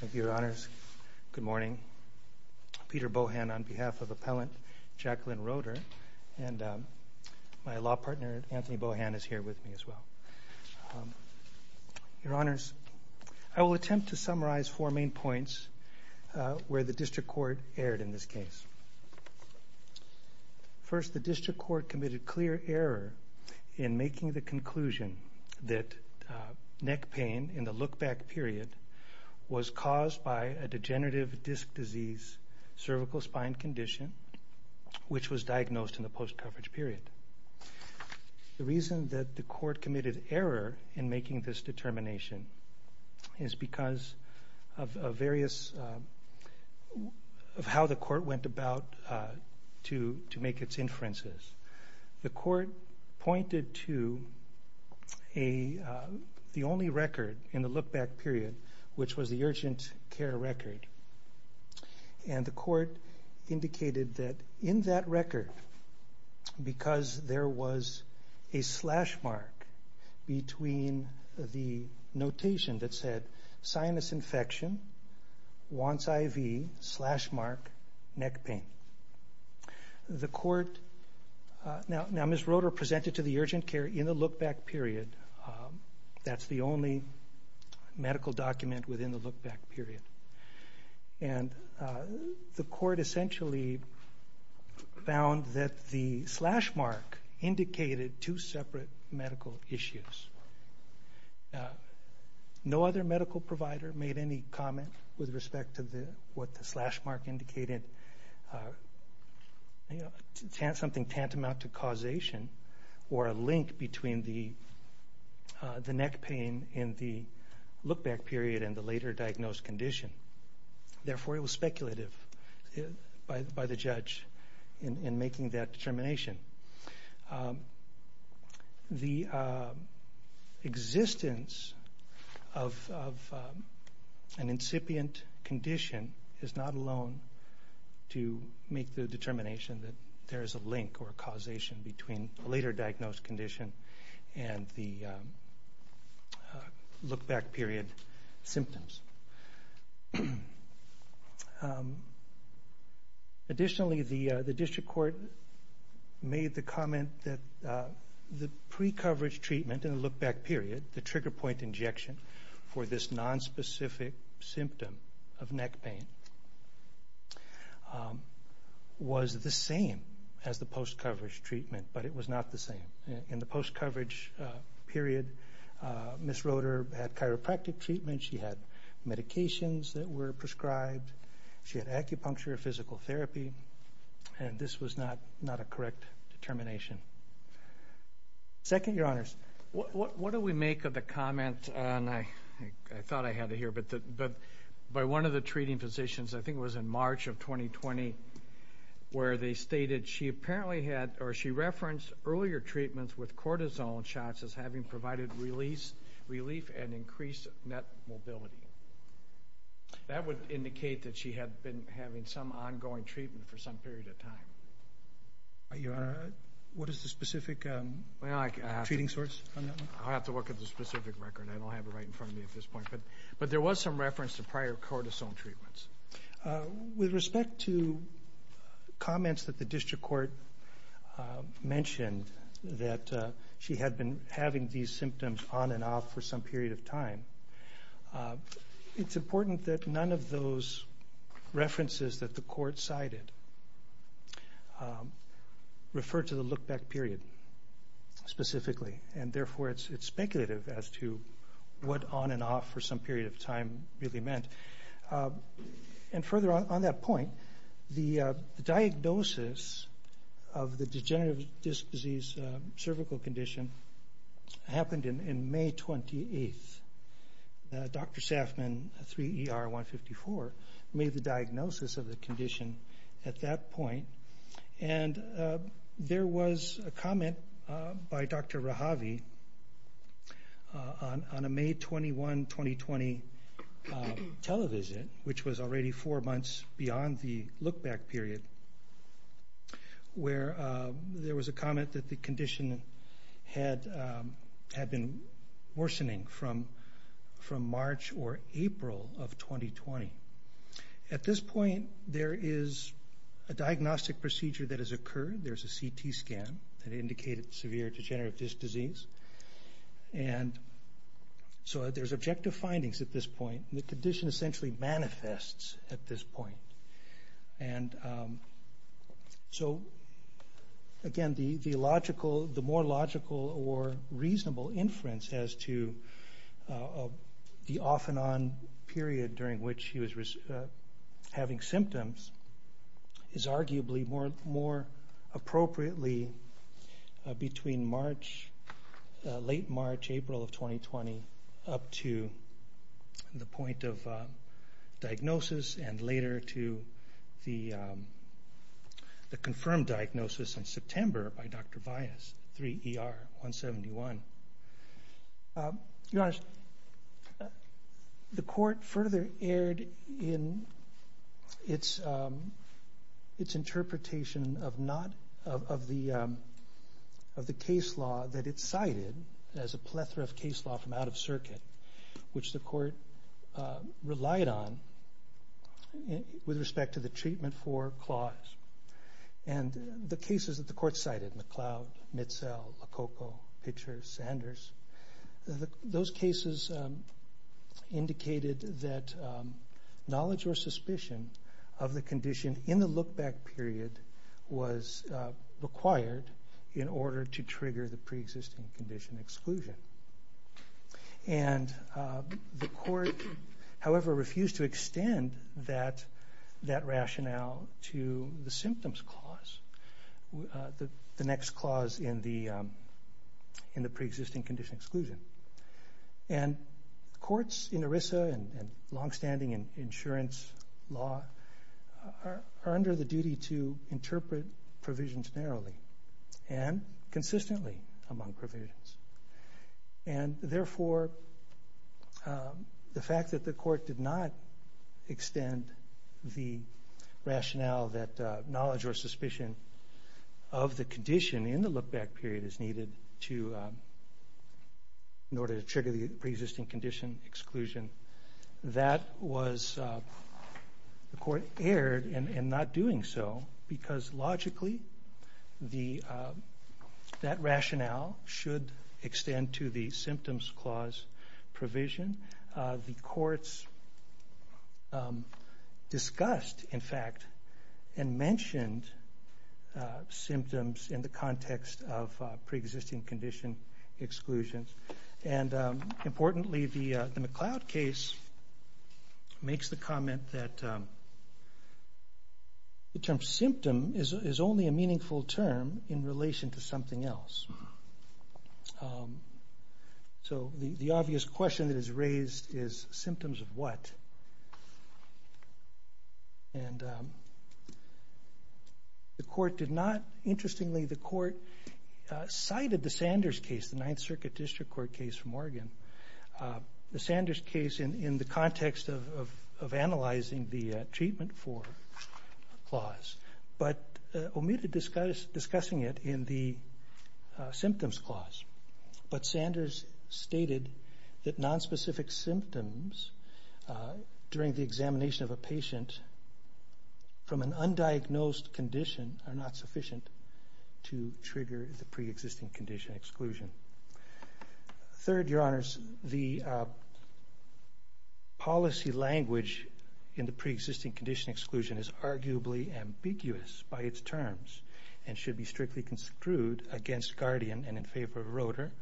Thank you, Your Honors. Good morning. Peter Bohan on behalf of Appellant Jacqueline Roeder and my law partner Anthony Bohan is here with me as well. Your Honors, I will attempt to summarize four main points where the District Court erred in this case. First, the District in the look-back period was caused by a degenerative disc disease cervical spine condition which was diagnosed in the post-coverage period. The reason that the Court committed error in making this determination is because of various, of how the Court went about to make its inferences. The Court pointed to the only record in the look-back period which was the urgent care record. The Court indicated that in that record, because there was a slash mark, neck pain. The Court, now Ms. Roeder presented to the urgent care in the look-back period, that's the only medical document within the look-back period. The Court essentially found that the slash mark indicated two separate medical issues. No other medical provider made any comment with respect to what the slash mark indicated. Something tantamount to causation or a link between the neck pain in the look-back period and the later diagnosed condition. Therefore, it was speculative by the judge in making that determination. The existence of an incipient condition is not alone to make the determination that there is a link or a causation between the later diagnosed condition and the look-back period symptoms. Additionally, the District Court made the comment that the pre-coverage treatment in the look-back period, the trigger point injection for this nonspecific symptom of neck pain, was the same as the post-coverage treatment, but it was not the same. In the look-back period, she had medications that were prescribed, she had acupuncture, physical therapy, and this was not a correct determination. Second, Your Honors. What do we make of the comment, and I thought I had it here, but by one of the treating physicians, I think it was in March of 2020, where they stated she apparently had, or she referenced earlier treatments with cortisone shots as having provided relief and increased neck mobility. That would indicate that she had been having some ongoing treatment for some period of time. Your Honor, what is the specific treating source on that one? I'll have to look at the specific record. I don't have it right in front of me at this point, but there was some reference to prior cortisone treatments. With respect to comments that the District Court mentioned that she had been having these treatments, it's important that none of those references that the Court cited refer to the look-back period specifically, and therefore it's speculative as to what on and off for some period of time really meant. Further on that point, the diagnosis of the degenerative disc disease cervical condition happened in May 28th. Dr. Safman, 3 ER 154, made the diagnosis of the condition at that point, and there was a comment by Dr. Rahavi on a May 21, 2020, televisit, which was already four months beyond the look-back period, where there was a comment that the condition had been worsening from March or April of 2020. At this point, there is a diagnostic procedure that has occurred. There's a CT scan that indicated severe degenerative disc disease, and so there's objective findings at this point. The condition essentially manifests at this point. So again, the more logical or reasonable inference as to the off-and-on period during which he was having symptoms is arguably more appropriately between late March, April of 2020, up to the point of diagnosis, and later to the confirmed diagnosis in September by Dr. Vyas, 3 ER 171. Your Honor, the court further erred in its interpretation of the case law that it cited as a plethora of case law from out of circuit, which the court relied on with respect to the treatment for clause. The cases that the court cited, McLeod, Mitzell, Lococo, Pitcher, Sanders, those cases indicated that knowledge or suspicion of the condition in the look-back period was required in order to trigger the pre-existing condition exclusion. And the court, however, refused to extend that rationale to the symptoms clause, the next clause in the pre-existing condition exclusion. And courts in ERISA and long-standing insurance law are under the duty to interpret provisions narrowly and consistently among provisions. And therefore, the fact that the court did not extend the rationale that knowledge or suspicion of the condition in the look-back period is needed in order to trigger the pre-existing condition exclusion, that was, the court erred in not doing so because logically that rationale should extend to the symptoms clause provision. The courts discussed, in fact, and mentioned symptoms in the context of pre-existing condition exclusions. And importantly, the McLeod case makes the comment that the term symptom is only a meaningful term in relation to something else. So the obvious question that is raised is symptoms of what? And the court did not, interestingly, the court cited the Sanders case, the Ninth Circuit District Court case from Oregon. The Sanders case in the context of analyzing the treatment for clause, but omitted discussing it in the symptoms clause. But Sanders stated that nonspecific symptoms during the examination of a patient from an undiagnosed condition are not sufficient to trigger the pre-existing condition exclusion. Third, Your policy language in the pre-existing condition exclusion is arguably ambiguous by its terms and should be strictly construed against Guardian and in favor of Roeder,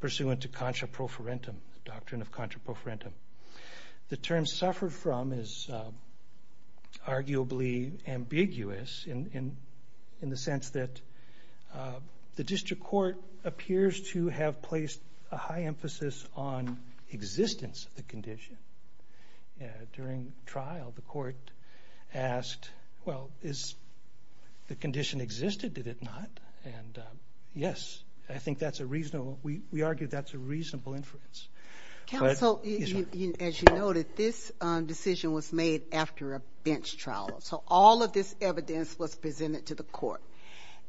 pursuant to contra-prophorentum, doctrine of contra-prophorentum. The term suffered from is arguably ambiguous in the sense that the district court appears to have placed a high emphasis on existence of the condition. During trial, the court asked, well, is the condition existed? Did it not? And yes, I think that's a reasonable, we argue that's a reasonable inference. Council, as you noted, this decision was made after a bench trial. So all of this evidence was presented to the court.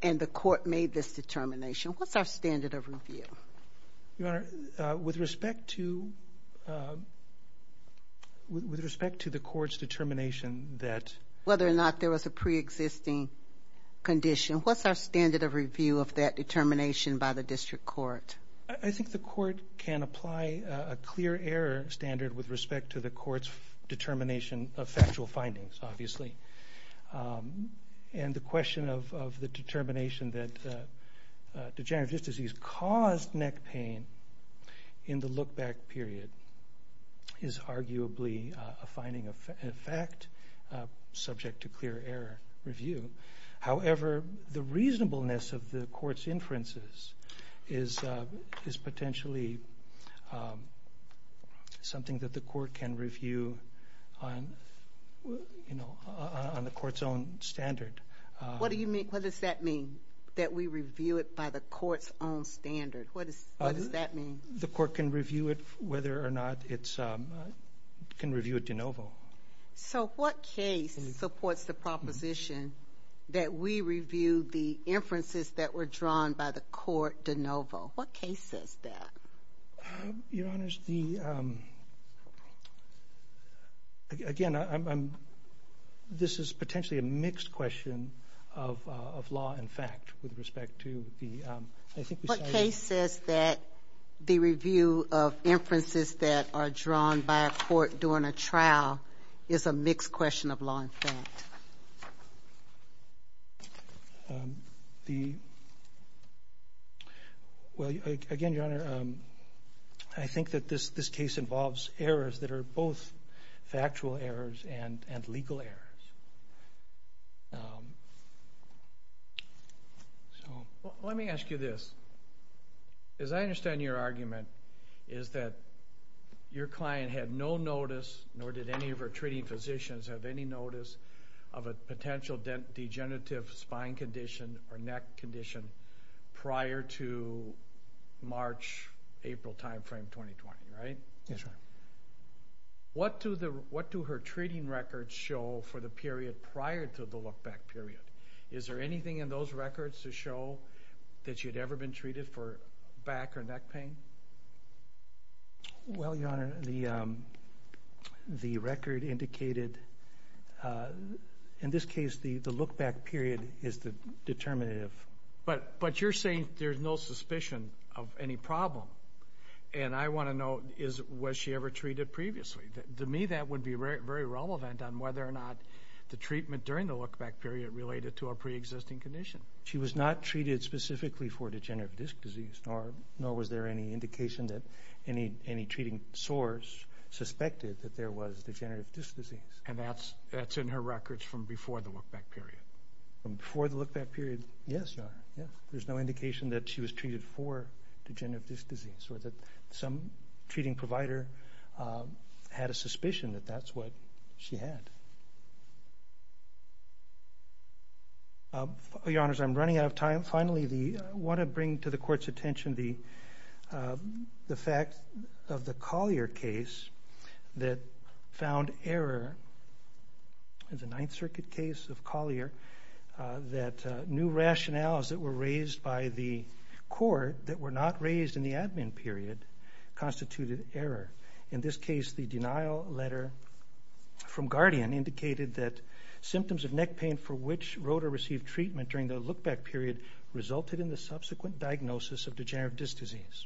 And the court made this determination. What's our standard of review? Your Honor, with respect to, with respect to the court's determination that whether or not there was a pre-existing condition, what's our standard of review of that determination by the district court? I think the court can apply a clear error standard with respect to the court's determination of factual findings, obviously. And the question of the determination that degenerative disc disease caused neck pain in the look back period is arguably a finding of fact, subject to clear error review. However, the reasonableness of the court's inferences is, is potentially something that the court can review on, you know, on the court's own standard. What do you mean? What does that mean? That we review it by the court's own standard? What does that mean? The court can review it, whether or not it's, can review it de novo. So what case supports the proposition that we review the inferences that were drawn by the court de novo? What case says that? Your Honor, the, again, I'm, this is potentially a mixed question of, of law and fact with respect to the, I think. What case says that the review of inferences that are drawn by a court during a trial is a mixed question of law and fact? The, well, again, Your Honor, I think that this, this case involves errors that are both factual errors and, and legal errors. So let me ask you this. As I understand your argument is that your client had no notice, nor did any of her treating physicians have any notice of a potential degenerative spine condition or neck condition prior to March, April timeframe 2020, right? Yes, Your Honor. What do the, what do her treating records show for the period prior to the look back period? Is there anything in those records to show that she had ever been treated for back or neck pain? Well, Your Honor, the, the record indicated, in this case, the, the look back period is the determinative. But, but you're saying there's no suspicion of any problem. And I want to know, is, was she ever treated previously? To me, that would be very, very relevant on whether or not the treatment during the look back period related to a preexisting condition. She was not treated specifically for degenerative disc disease, nor, nor was there any indication that any, any treating source suspected that there was degenerative disc disease. And that's, that's in her records from before the look back period. From before the look back period? Yes, Your Honor, yes. There's no indication that she was treated for degenerative disc disease or that some treating provider had a suspicion that that's what she had. Your Honors, I'm running out of time. Finally, the, I want to bring to the Court's attention the, the fact of the Collier case that found error in the Ninth Circuit case of Collier, that new rationales that were raised by the court that were not raised in the admin period constituted error. In this case, the denial letter from Guardian indicated that symptoms of neck pain for which Rota received treatment during the look back period resulted in the subsequent diagnosis of degenerative disc disease.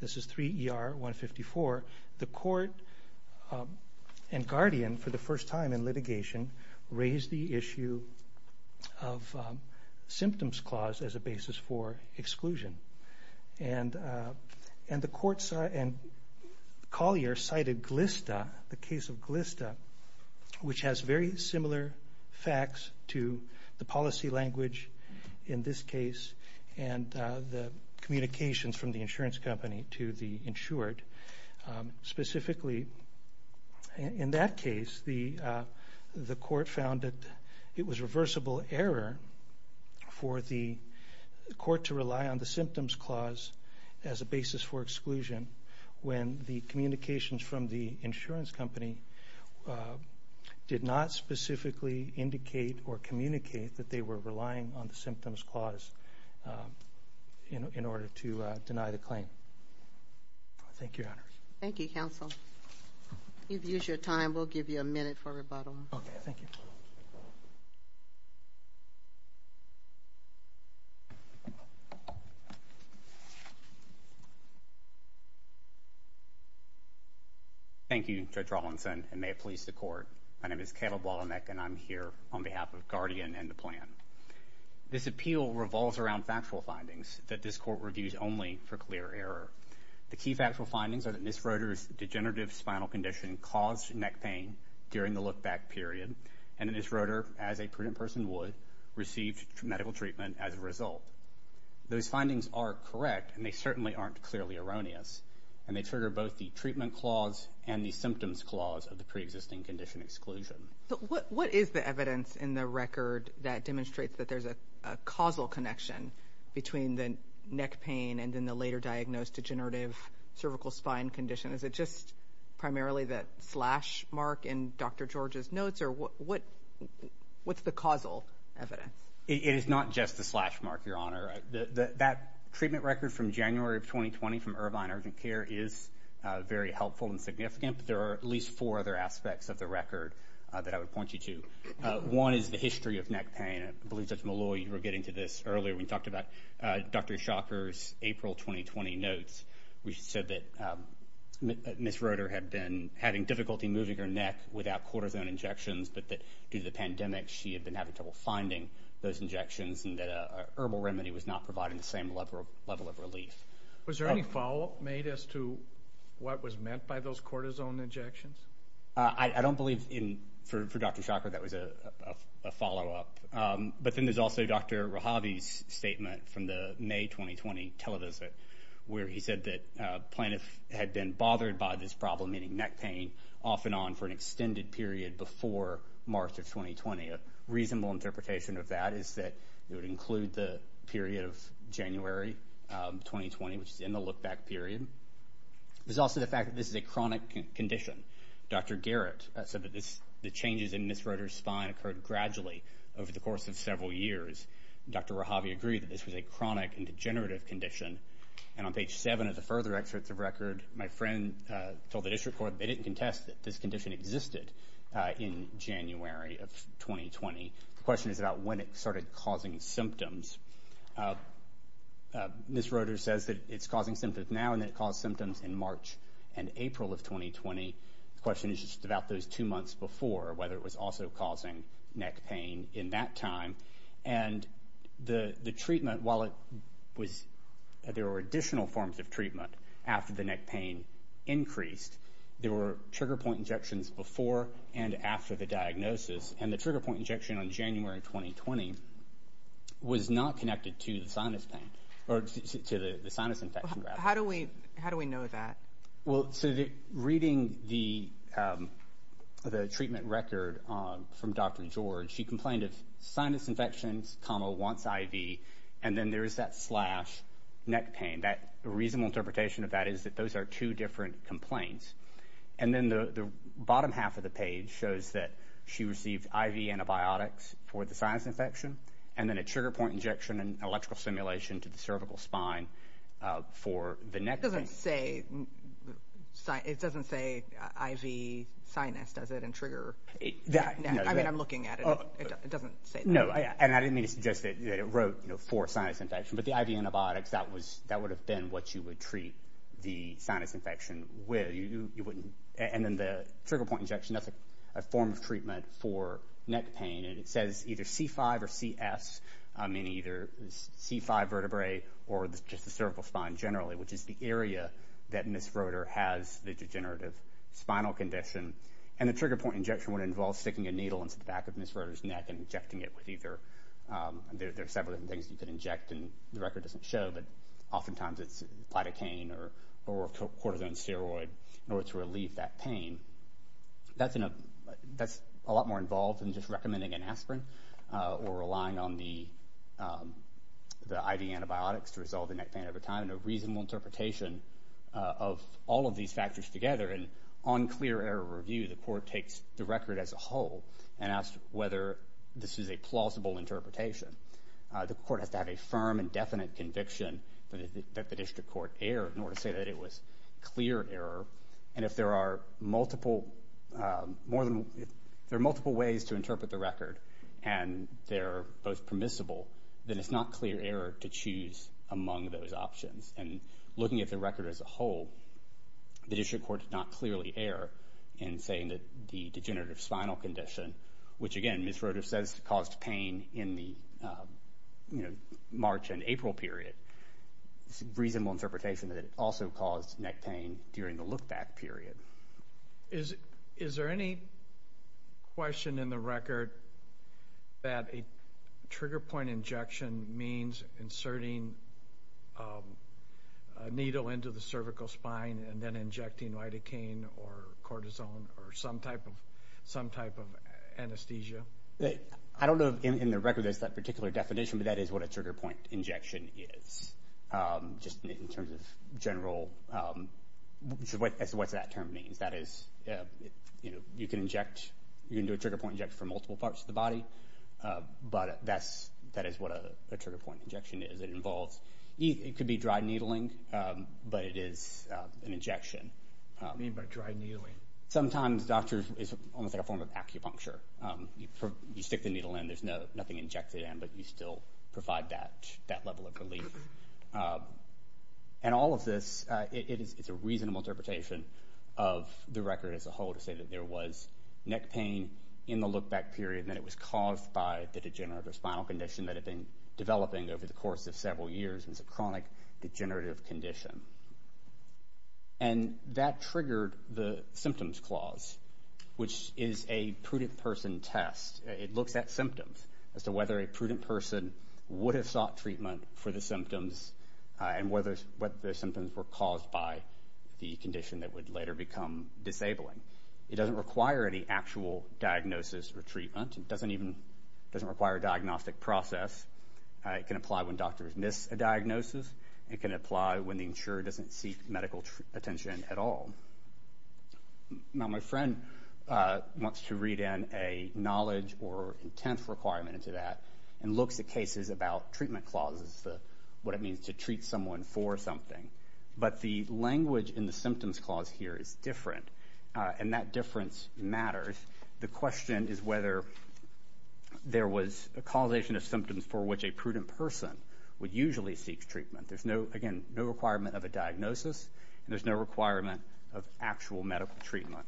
This is 3 ER 154. The court and Guardian, for the first time in litigation, raised the issue of symptoms clause as a basis for exclusion. And, and the courts and Collier cited Glista, the case of Glista, which has very similar facts to the policy language in this case. And the communications from the insurance company to the insured, specifically, in that case, the, the court found that it was reversible error for the court to rely on the symptoms clause as a basis for exclusion when the communications from the insurance company did not specifically indicate or communicate that they were relying on the symptoms clause in order to deny the claim. Thank you, Your Honor. Thank you, counsel. You've used your time. We'll give you a minute for rebuttal. Okay, thank you. Thank you, Judge Rawlinson, and may it please the court. My name is Caleb Wallenbeck, and I'm here on behalf of Guardian and the plan. This appeal revolves around factual findings that this court reviews only for clear error. The key factual findings are that Ms. Rota's degenerative spinal condition caused neck pain during the look back period. And Ms. Rota, as a person would, received medical treatment as a result. Those findings are correct, and they certainly aren't clearly erroneous. And they trigger both the treatment clause and the symptoms clause of the preexisting condition exclusion. So what, what is the evidence in the record that demonstrates that there's a causal connection between the neck pain and then the later diagnosed degenerative cervical spine condition? Is it just primarily that slash mark in Dr. George's notes? Or what, what, what's the causal evidence? It is not just the slash mark, Your Honor. That treatment record from January of 2020 from Irvine Urgent Care is very helpful and significant. But there are at least four other aspects of the record that I would point you to. One is the history of neck pain. I believe, Judge Malloy, you were getting to this earlier when you talked about Dr. Schacher's April 2020 notes. We said that Ms. Rota had been having difficulty moving her neck without cortisone injections, but that due to the pandemic, she had been having trouble finding those injections and that a herbal remedy was not providing the same level of relief. Was there any follow-up made as to what was meant by those cortisone injections? I don't believe in, for Dr. Schacher, that was a follow-up. But then there's also Dr. Rahabi's statement from the May 2020 televisit, where he said that plaintiff had been bothered by this problem, meaning neck pain, off and on for an extended period before March of 2020. A reasonable interpretation of that is that it would include the period of January 2020, which is in the look-back period. There's also the fact that this is a chronic condition. Dr. Garrett said that the changes in Ms. Rota's spine occurred gradually over the course of several years. Dr. Rahabi agreed that this was a chronic and degenerative condition. And on page 7 of the further excerpts of record, my friend told the district court they didn't contest that this condition existed in January of 2020. The question is about when it started causing symptoms. Ms. The question is just about those two months before, whether it was also causing neck pain in that time. And the treatment, while it was, there were additional forms of treatment after the neck pain increased. There were trigger point injections before and after the diagnosis. And the trigger point injection on January 2020 was not connected to the sinus pain or to the sinus infection graph. How do we know that? Well, so reading the treatment record from Dr. George, she complained of sinus infections, comma, wants IV. And then there is that slash neck pain. That reasonable interpretation of that is that those are two different complaints. And then the bottom half of the page shows that she received IV antibiotics for the sinus infection. And then a trigger point injection and electrical stimulation to the cervical spine for the neck. That doesn't say, it doesn't say IV sinus, does it, and trigger? I mean, I'm looking at it. It doesn't say that. No, and I didn't mean to suggest that it wrote, you know, for sinus infection. But the IV antibiotics, that was, that would have been what you would treat the sinus infection with. You wouldn't. And then the trigger point injection, that's a form of treatment for neck pain. And it says either C5 or CS, I mean, either C5 vertebrae or just the cervical spine generally, which is the area that Ms. Roeder has the degenerative spinal condition. And the trigger point injection would involve sticking a needle into the back of Ms. Roeder's neck and injecting it with either, there are several different things you can inject, and the record doesn't show. But oftentimes it's platucaine or cortisone steroid in order to relieve that pain. That's a lot more involved than just recommending an aspirin or relying on the IV antibiotics to resolve the neck pain over time and a reasonable interpretation of all of these factors together. And on clear error review, the court takes the record as a whole and asks whether this is a plausible interpretation. The court has to have a firm and definite conviction that the district court erred in order to say that it was clear error. And if there are multiple ways to interpret the record and they're both permissible, then it's not clear error to choose among those options. And looking at the record as a whole, the district court did not clearly err in saying that the degenerative spinal condition, which again Ms. Roeder says caused pain in the March and April period, is a reasonable interpretation that it also caused neck pain during the lookback period. Is there any question in the record that a trigger point injection means inserting a needle into the cervical spine and then injecting lidocaine or cortisone or some type of anesthesia? I don't know if in the record there's that particular definition, but that is what a general, what that term means. That is, you can inject, you can do a trigger point injection for multiple parts of the body, but that is what a trigger point injection is. It involves, it could be dry needling, but it is an injection. What do you mean by dry needling? Sometimes doctors, it's almost like a form of acupuncture. You stick the needle in, there's nothing injected in, but you still provide that level of relief. And all of this, it's a reasonable interpretation of the record as a whole to say that there was neck pain in the lookback period and that it was caused by the degenerative spinal condition that had been developing over the course of several years. It's a chronic degenerative condition. And that triggered the symptoms clause, which is a prudent person test. It looks at symptoms as to whether a prudent person would have sought treatment for the symptoms and whether the symptoms were caused by the condition that would later become disabling. It doesn't require any actual diagnosis or treatment. It doesn't even, it doesn't require a diagnostic process. It can apply when doctors miss a diagnosis. It can apply when the insurer doesn't seek medical attention at all. Now, my friend wants to read in a knowledge or intent requirement into that and looks at cases about treatment clauses, what it means to treat someone for something. But the language in the symptoms clause here is different. And that difference matters. The question is whether there was a causation of symptoms for which a prudent person would usually seek treatment. Again, no requirement of a diagnosis and there's no requirement of actual medical treatment.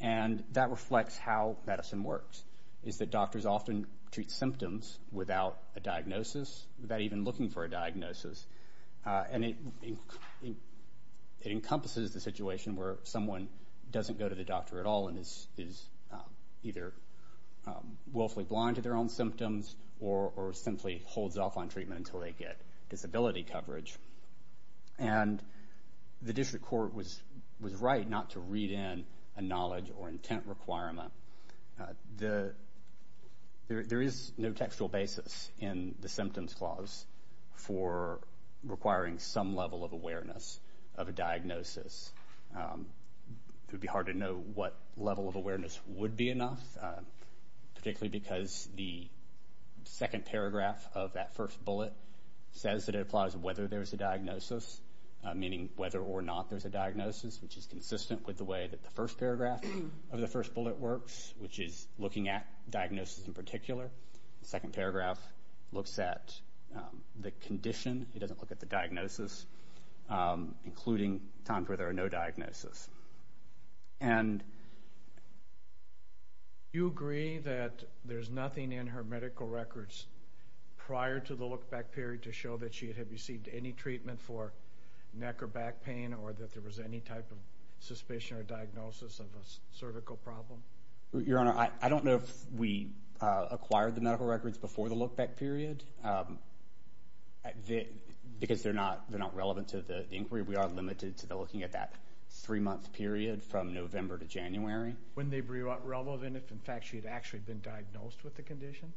And that reflects how medicine works, is that doctors often treat symptoms without a diagnosis, without even looking for a diagnosis. And it encompasses the situation where someone doesn't go to the doctor at all and is either willfully blind to their own symptoms or simply holds off on treatment until they get disability coverage. And the district court was right not to read in a knowledge or intent requirement. There is no textual basis in the symptoms clause for requiring some level of awareness of a diagnosis. It would be hard to know what level of awareness would be enough, particularly because the second paragraph of that first bullet says that it applies whether there's a diagnosis, meaning whether or not there's a diagnosis, which is consistent with the way that the first paragraph of the first bullet works, which is looking at diagnosis in particular. The second paragraph looks at the condition. It doesn't look at the diagnosis, including times where there are no diagnosis. And you agree that there's nothing in her medical records prior to the look-back period to show that she had received any treatment for neck or back pain or that there was any type of suspicion or diagnosis of a cervical problem? Your Honor, I don't know if we acquired the medical records before the look-back period. Because they're not relevant to the inquiry, we are limited to looking at that three-month period from November to January. Wouldn't they be relevant if, in fact, she had actually been diagnosed with the condition?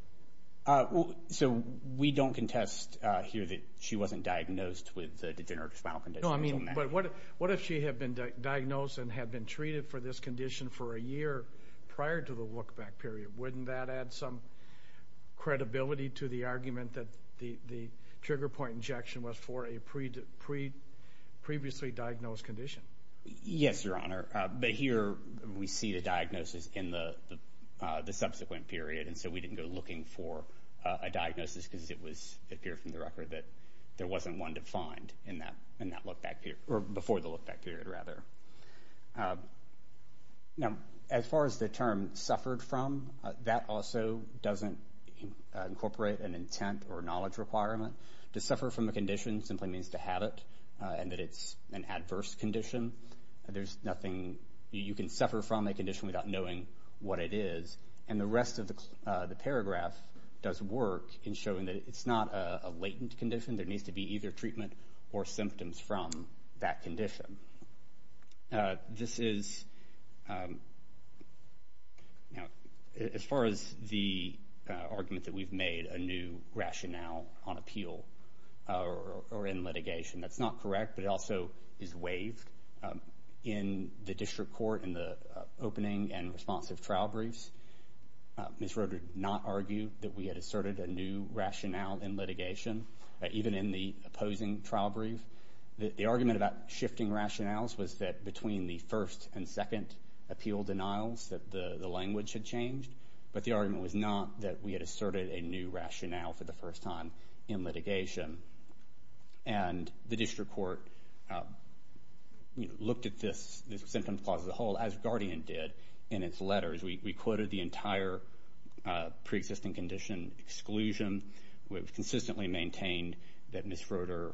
So we don't contest here that she wasn't diagnosed with the degenerative spinal condition? No, I mean, but what if she had been diagnosed and had been treated for this condition for a year prior to the look-back period? Wouldn't that add some credibility to the argument that the trigger point injection was for a previously diagnosed condition? Yes, Your Honor. But here we see the diagnosis in the subsequent period. And so we didn't go looking for a diagnosis because it appeared from the record that there wasn't one defined in that look-back period, or before the look-back period, rather. Now, as far as the term suffered from, that also doesn't incorporate an intent or knowledge requirement. To suffer from a condition simply means to have it, and that it's an adverse condition. There's nothing... You can suffer from a condition without knowing what it is. And the rest of the paragraph does work in showing that it's not a latent condition. There needs to be either treatment or symptoms from that condition. Now, this is... Now, as far as the argument that we've made a new rationale on appeal or in litigation, that's not correct, but it also is waived in the district court, in the opening and responsive trial briefs. Ms. Roderick did not argue that we had asserted a new rationale in litigation, even in the opposing trial brief. The argument about shifting rationales was that between the first and second appeal denials that the language had changed, but the argument was not that we had asserted a new rationale for the first time in litigation. And the district court looked at this symptom clause as a whole, as Guardian did, in its letters. We quoted the entire pre-existing condition exclusion. We've consistently maintained that Ms. Roder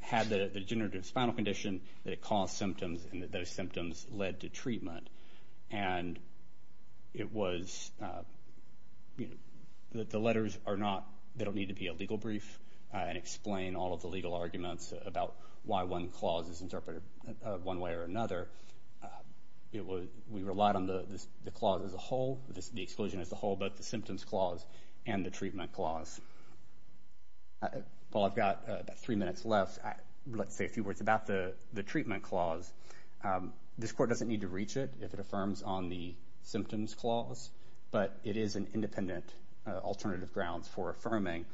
had the degenerative spinal condition, that it caused symptoms, and that those symptoms led to treatment. And it was... The letters are not... They don't need to be a legal brief and explain all of the legal arguments about why one clause is interpreted one way or another. We relied on the clause as a whole, the exclusion as a whole, but the symptoms clause and the treatment clause. While I've got about three minutes left, let's say a few words about the treatment clause. This court doesn't need to reach it if it affirms on the symptoms clause, but it is an independent alternative grounds for affirming,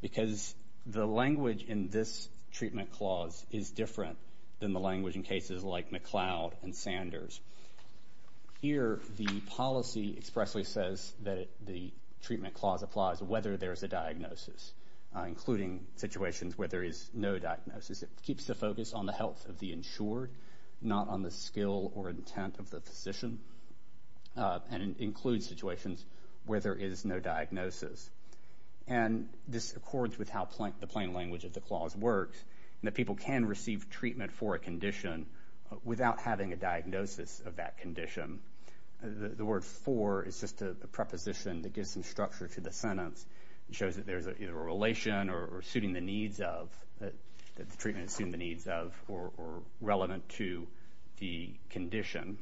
because the language in this treatment clause is different than the language in cases like McLeod and Sanders. Here, the policy expressly says that the treatment clause applies whether there's a diagnosis, including situations where there is no diagnosis. It keeps the focus on the health of the insured, not on the skill or intent of the physician, and includes situations where there is no diagnosis. And this accords with how the plain language of the clause works, and that people can receive treatment for a condition without having a diagnosis of that condition. The word for is just a preposition that gives some structure to the sentence. It shows that there's either a relation or suiting the needs of, that the treatment is suiting the needs of or relevant to the condition.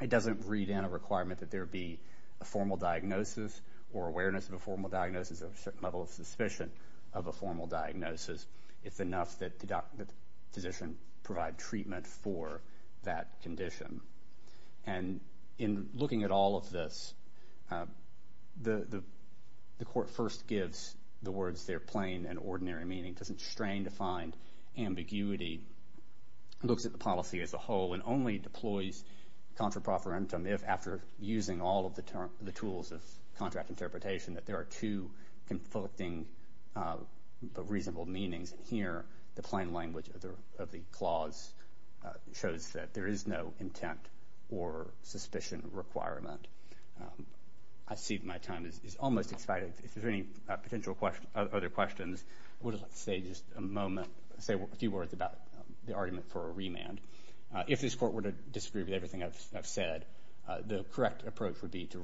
It doesn't read in a requirement that there be a formal diagnosis or awareness of a formal diagnosis or a certain level of suspicion of a formal diagnosis. It's enough that the physician provide treatment for that condition. And in looking at all of this, the court first gives the words their plain and ordinary meaning. It doesn't strain to find ambiguity. It looks at the policy as a whole and only deploys contra profferentum if, after using all of the tools of contract interpretation, that there are two conflicting but reasonable meanings. Here, the plain language of the clause shows that there is no intent or suspicion requirement. I see that my time is almost expired. If there's any potential other questions, I would like to say just a moment, say a few words about the argument for a remand. If this court were to disagree with everything I've said, the correct approach would be to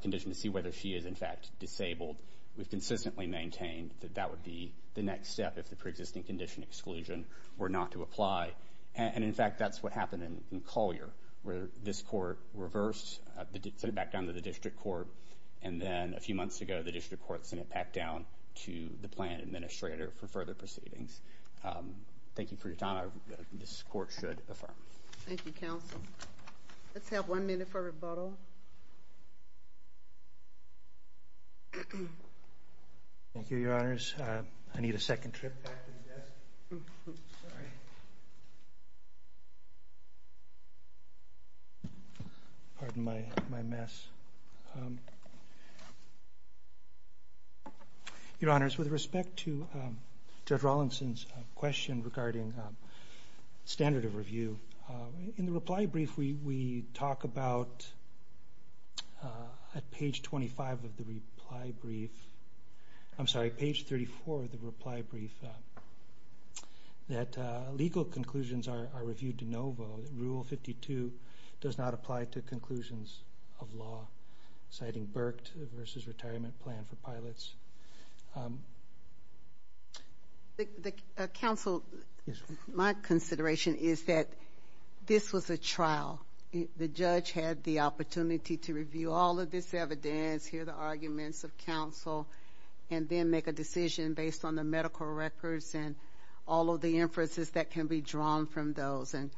condition to see whether she is, in fact, disabled. We've consistently maintained that that would be the next step if the pre-existing condition exclusion were not to apply. And in fact, that's what happened in Collier, where this court reversed, sent it back down to the district court. And then a few months ago, the district court sent it back down to the plan administrator for further proceedings. Thank you for your time. Thank you, counsel. Let's have one minute for rebuttal. Thank you, Your Honors. I need a second trip back to the desk. Pardon my mess. Your Honors, with respect to Judge Rawlinson's question regarding standard of review, in reply brief, we talk about at page 25 of the reply brief, I'm sorry, page 34 of the reply brief, that legal conclusions are reviewed de novo. Rule 52 does not apply to conclusions of law, citing Burke versus retirement plan for pilots. Counsel, my consideration is that this was a trial. The judge had the opportunity to review all of this evidence, hear the arguments of counsel, and then make a decision based on the medical records and all of the inferences that can be drawn from those. And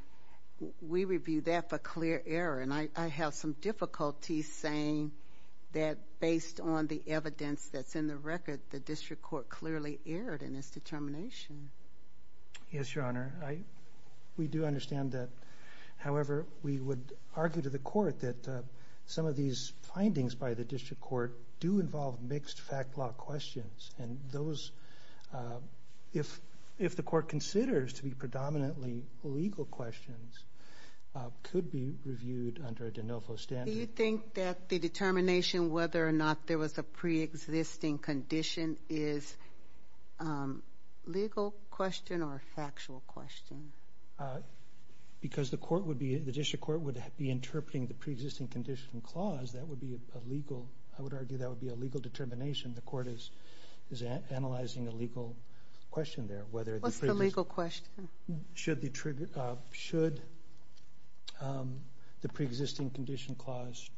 we review that for clear error. And I have some difficulty saying that based on the evidence that's in the record, the district court clearly erred in its determination. Yes, Your Honor. We do understand that. However, we would argue to the court that some of these findings by the district court do involve mixed fact law questions. And those, if the court considers to be predominantly legal questions, could be reviewed under a de novo standard. Do you think that the determination whether or not there was a pre-existing condition is a legal question or a factual question? Because the court would be, the district court would be interpreting the pre-existing condition clause. That would be a legal, I would argue that would be a legal determination. The court is analyzing a legal question there. What's the legal question? Should the trigger, should the pre-existing condition clause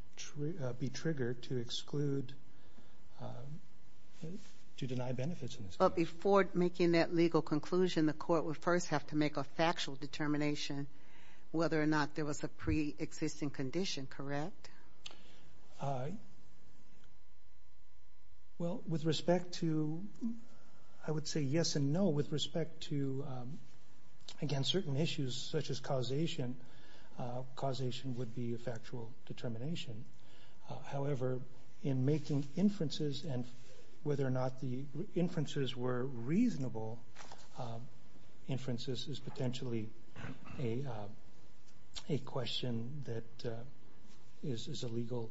be triggered to exclude, to deny benefits? But before making that legal conclusion, the court would first have to make a factual determination whether or not there was a pre-existing condition, correct? Well, with respect to, I would say yes and no. With respect to, again, certain issues such as causation, causation would be a factual determination. However, in making inferences and whether or not the inferences were reasonable, inferences is potentially a question that is a legal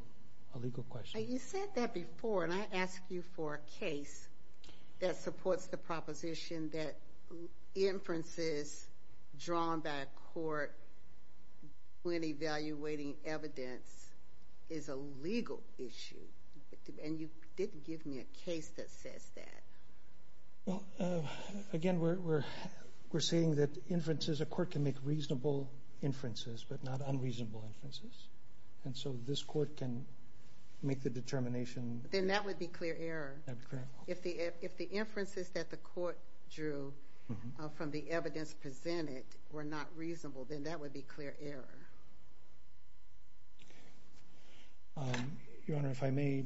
question. You said that before, and I asked you for a case that supports the proposition that inferences drawn by a court when evaluating evidence is a legal issue. And you didn't give me a case that says that. Well, again, we're seeing that inferences, a court can make reasonable inferences, but not unreasonable inferences. And so this court can make the determination. Then that would be clear error. If the inferences that the court drew from the evidence presented were not reasonable, then that would be clear error. Your Honor, if I may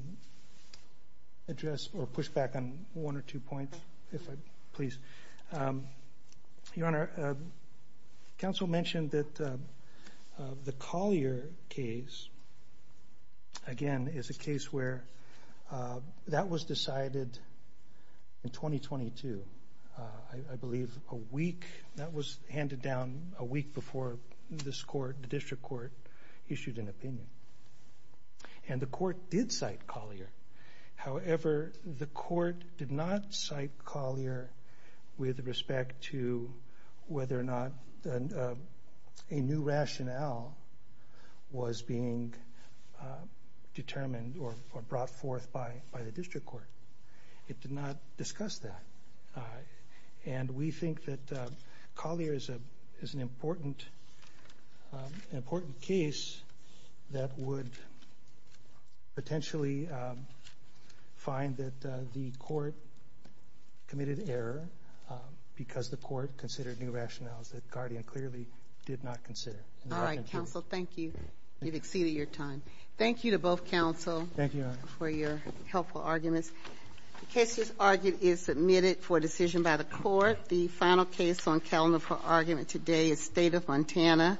address or push back on one or two points, if I please. Your Honor, counsel mentioned that the Collier case, again, is a case where that was decided in 2022, I believe a week, that was handed down a week before this court determined that the district court issued an opinion. And the court did cite Collier. However, the court did not cite Collier with respect to whether or not a new rationale was being determined or brought forth by the district court. It did not discuss that. And we think that Collier is an important case that would potentially find that the court committed error because the court considered new rationales that Guardian clearly did not consider. All right, counsel. Thank you. You've exceeded your time. Thank you to both counsel for your helpful arguments. The case as argued is submitted for decision by the court. The final case on calendar for argument today is State of Montana.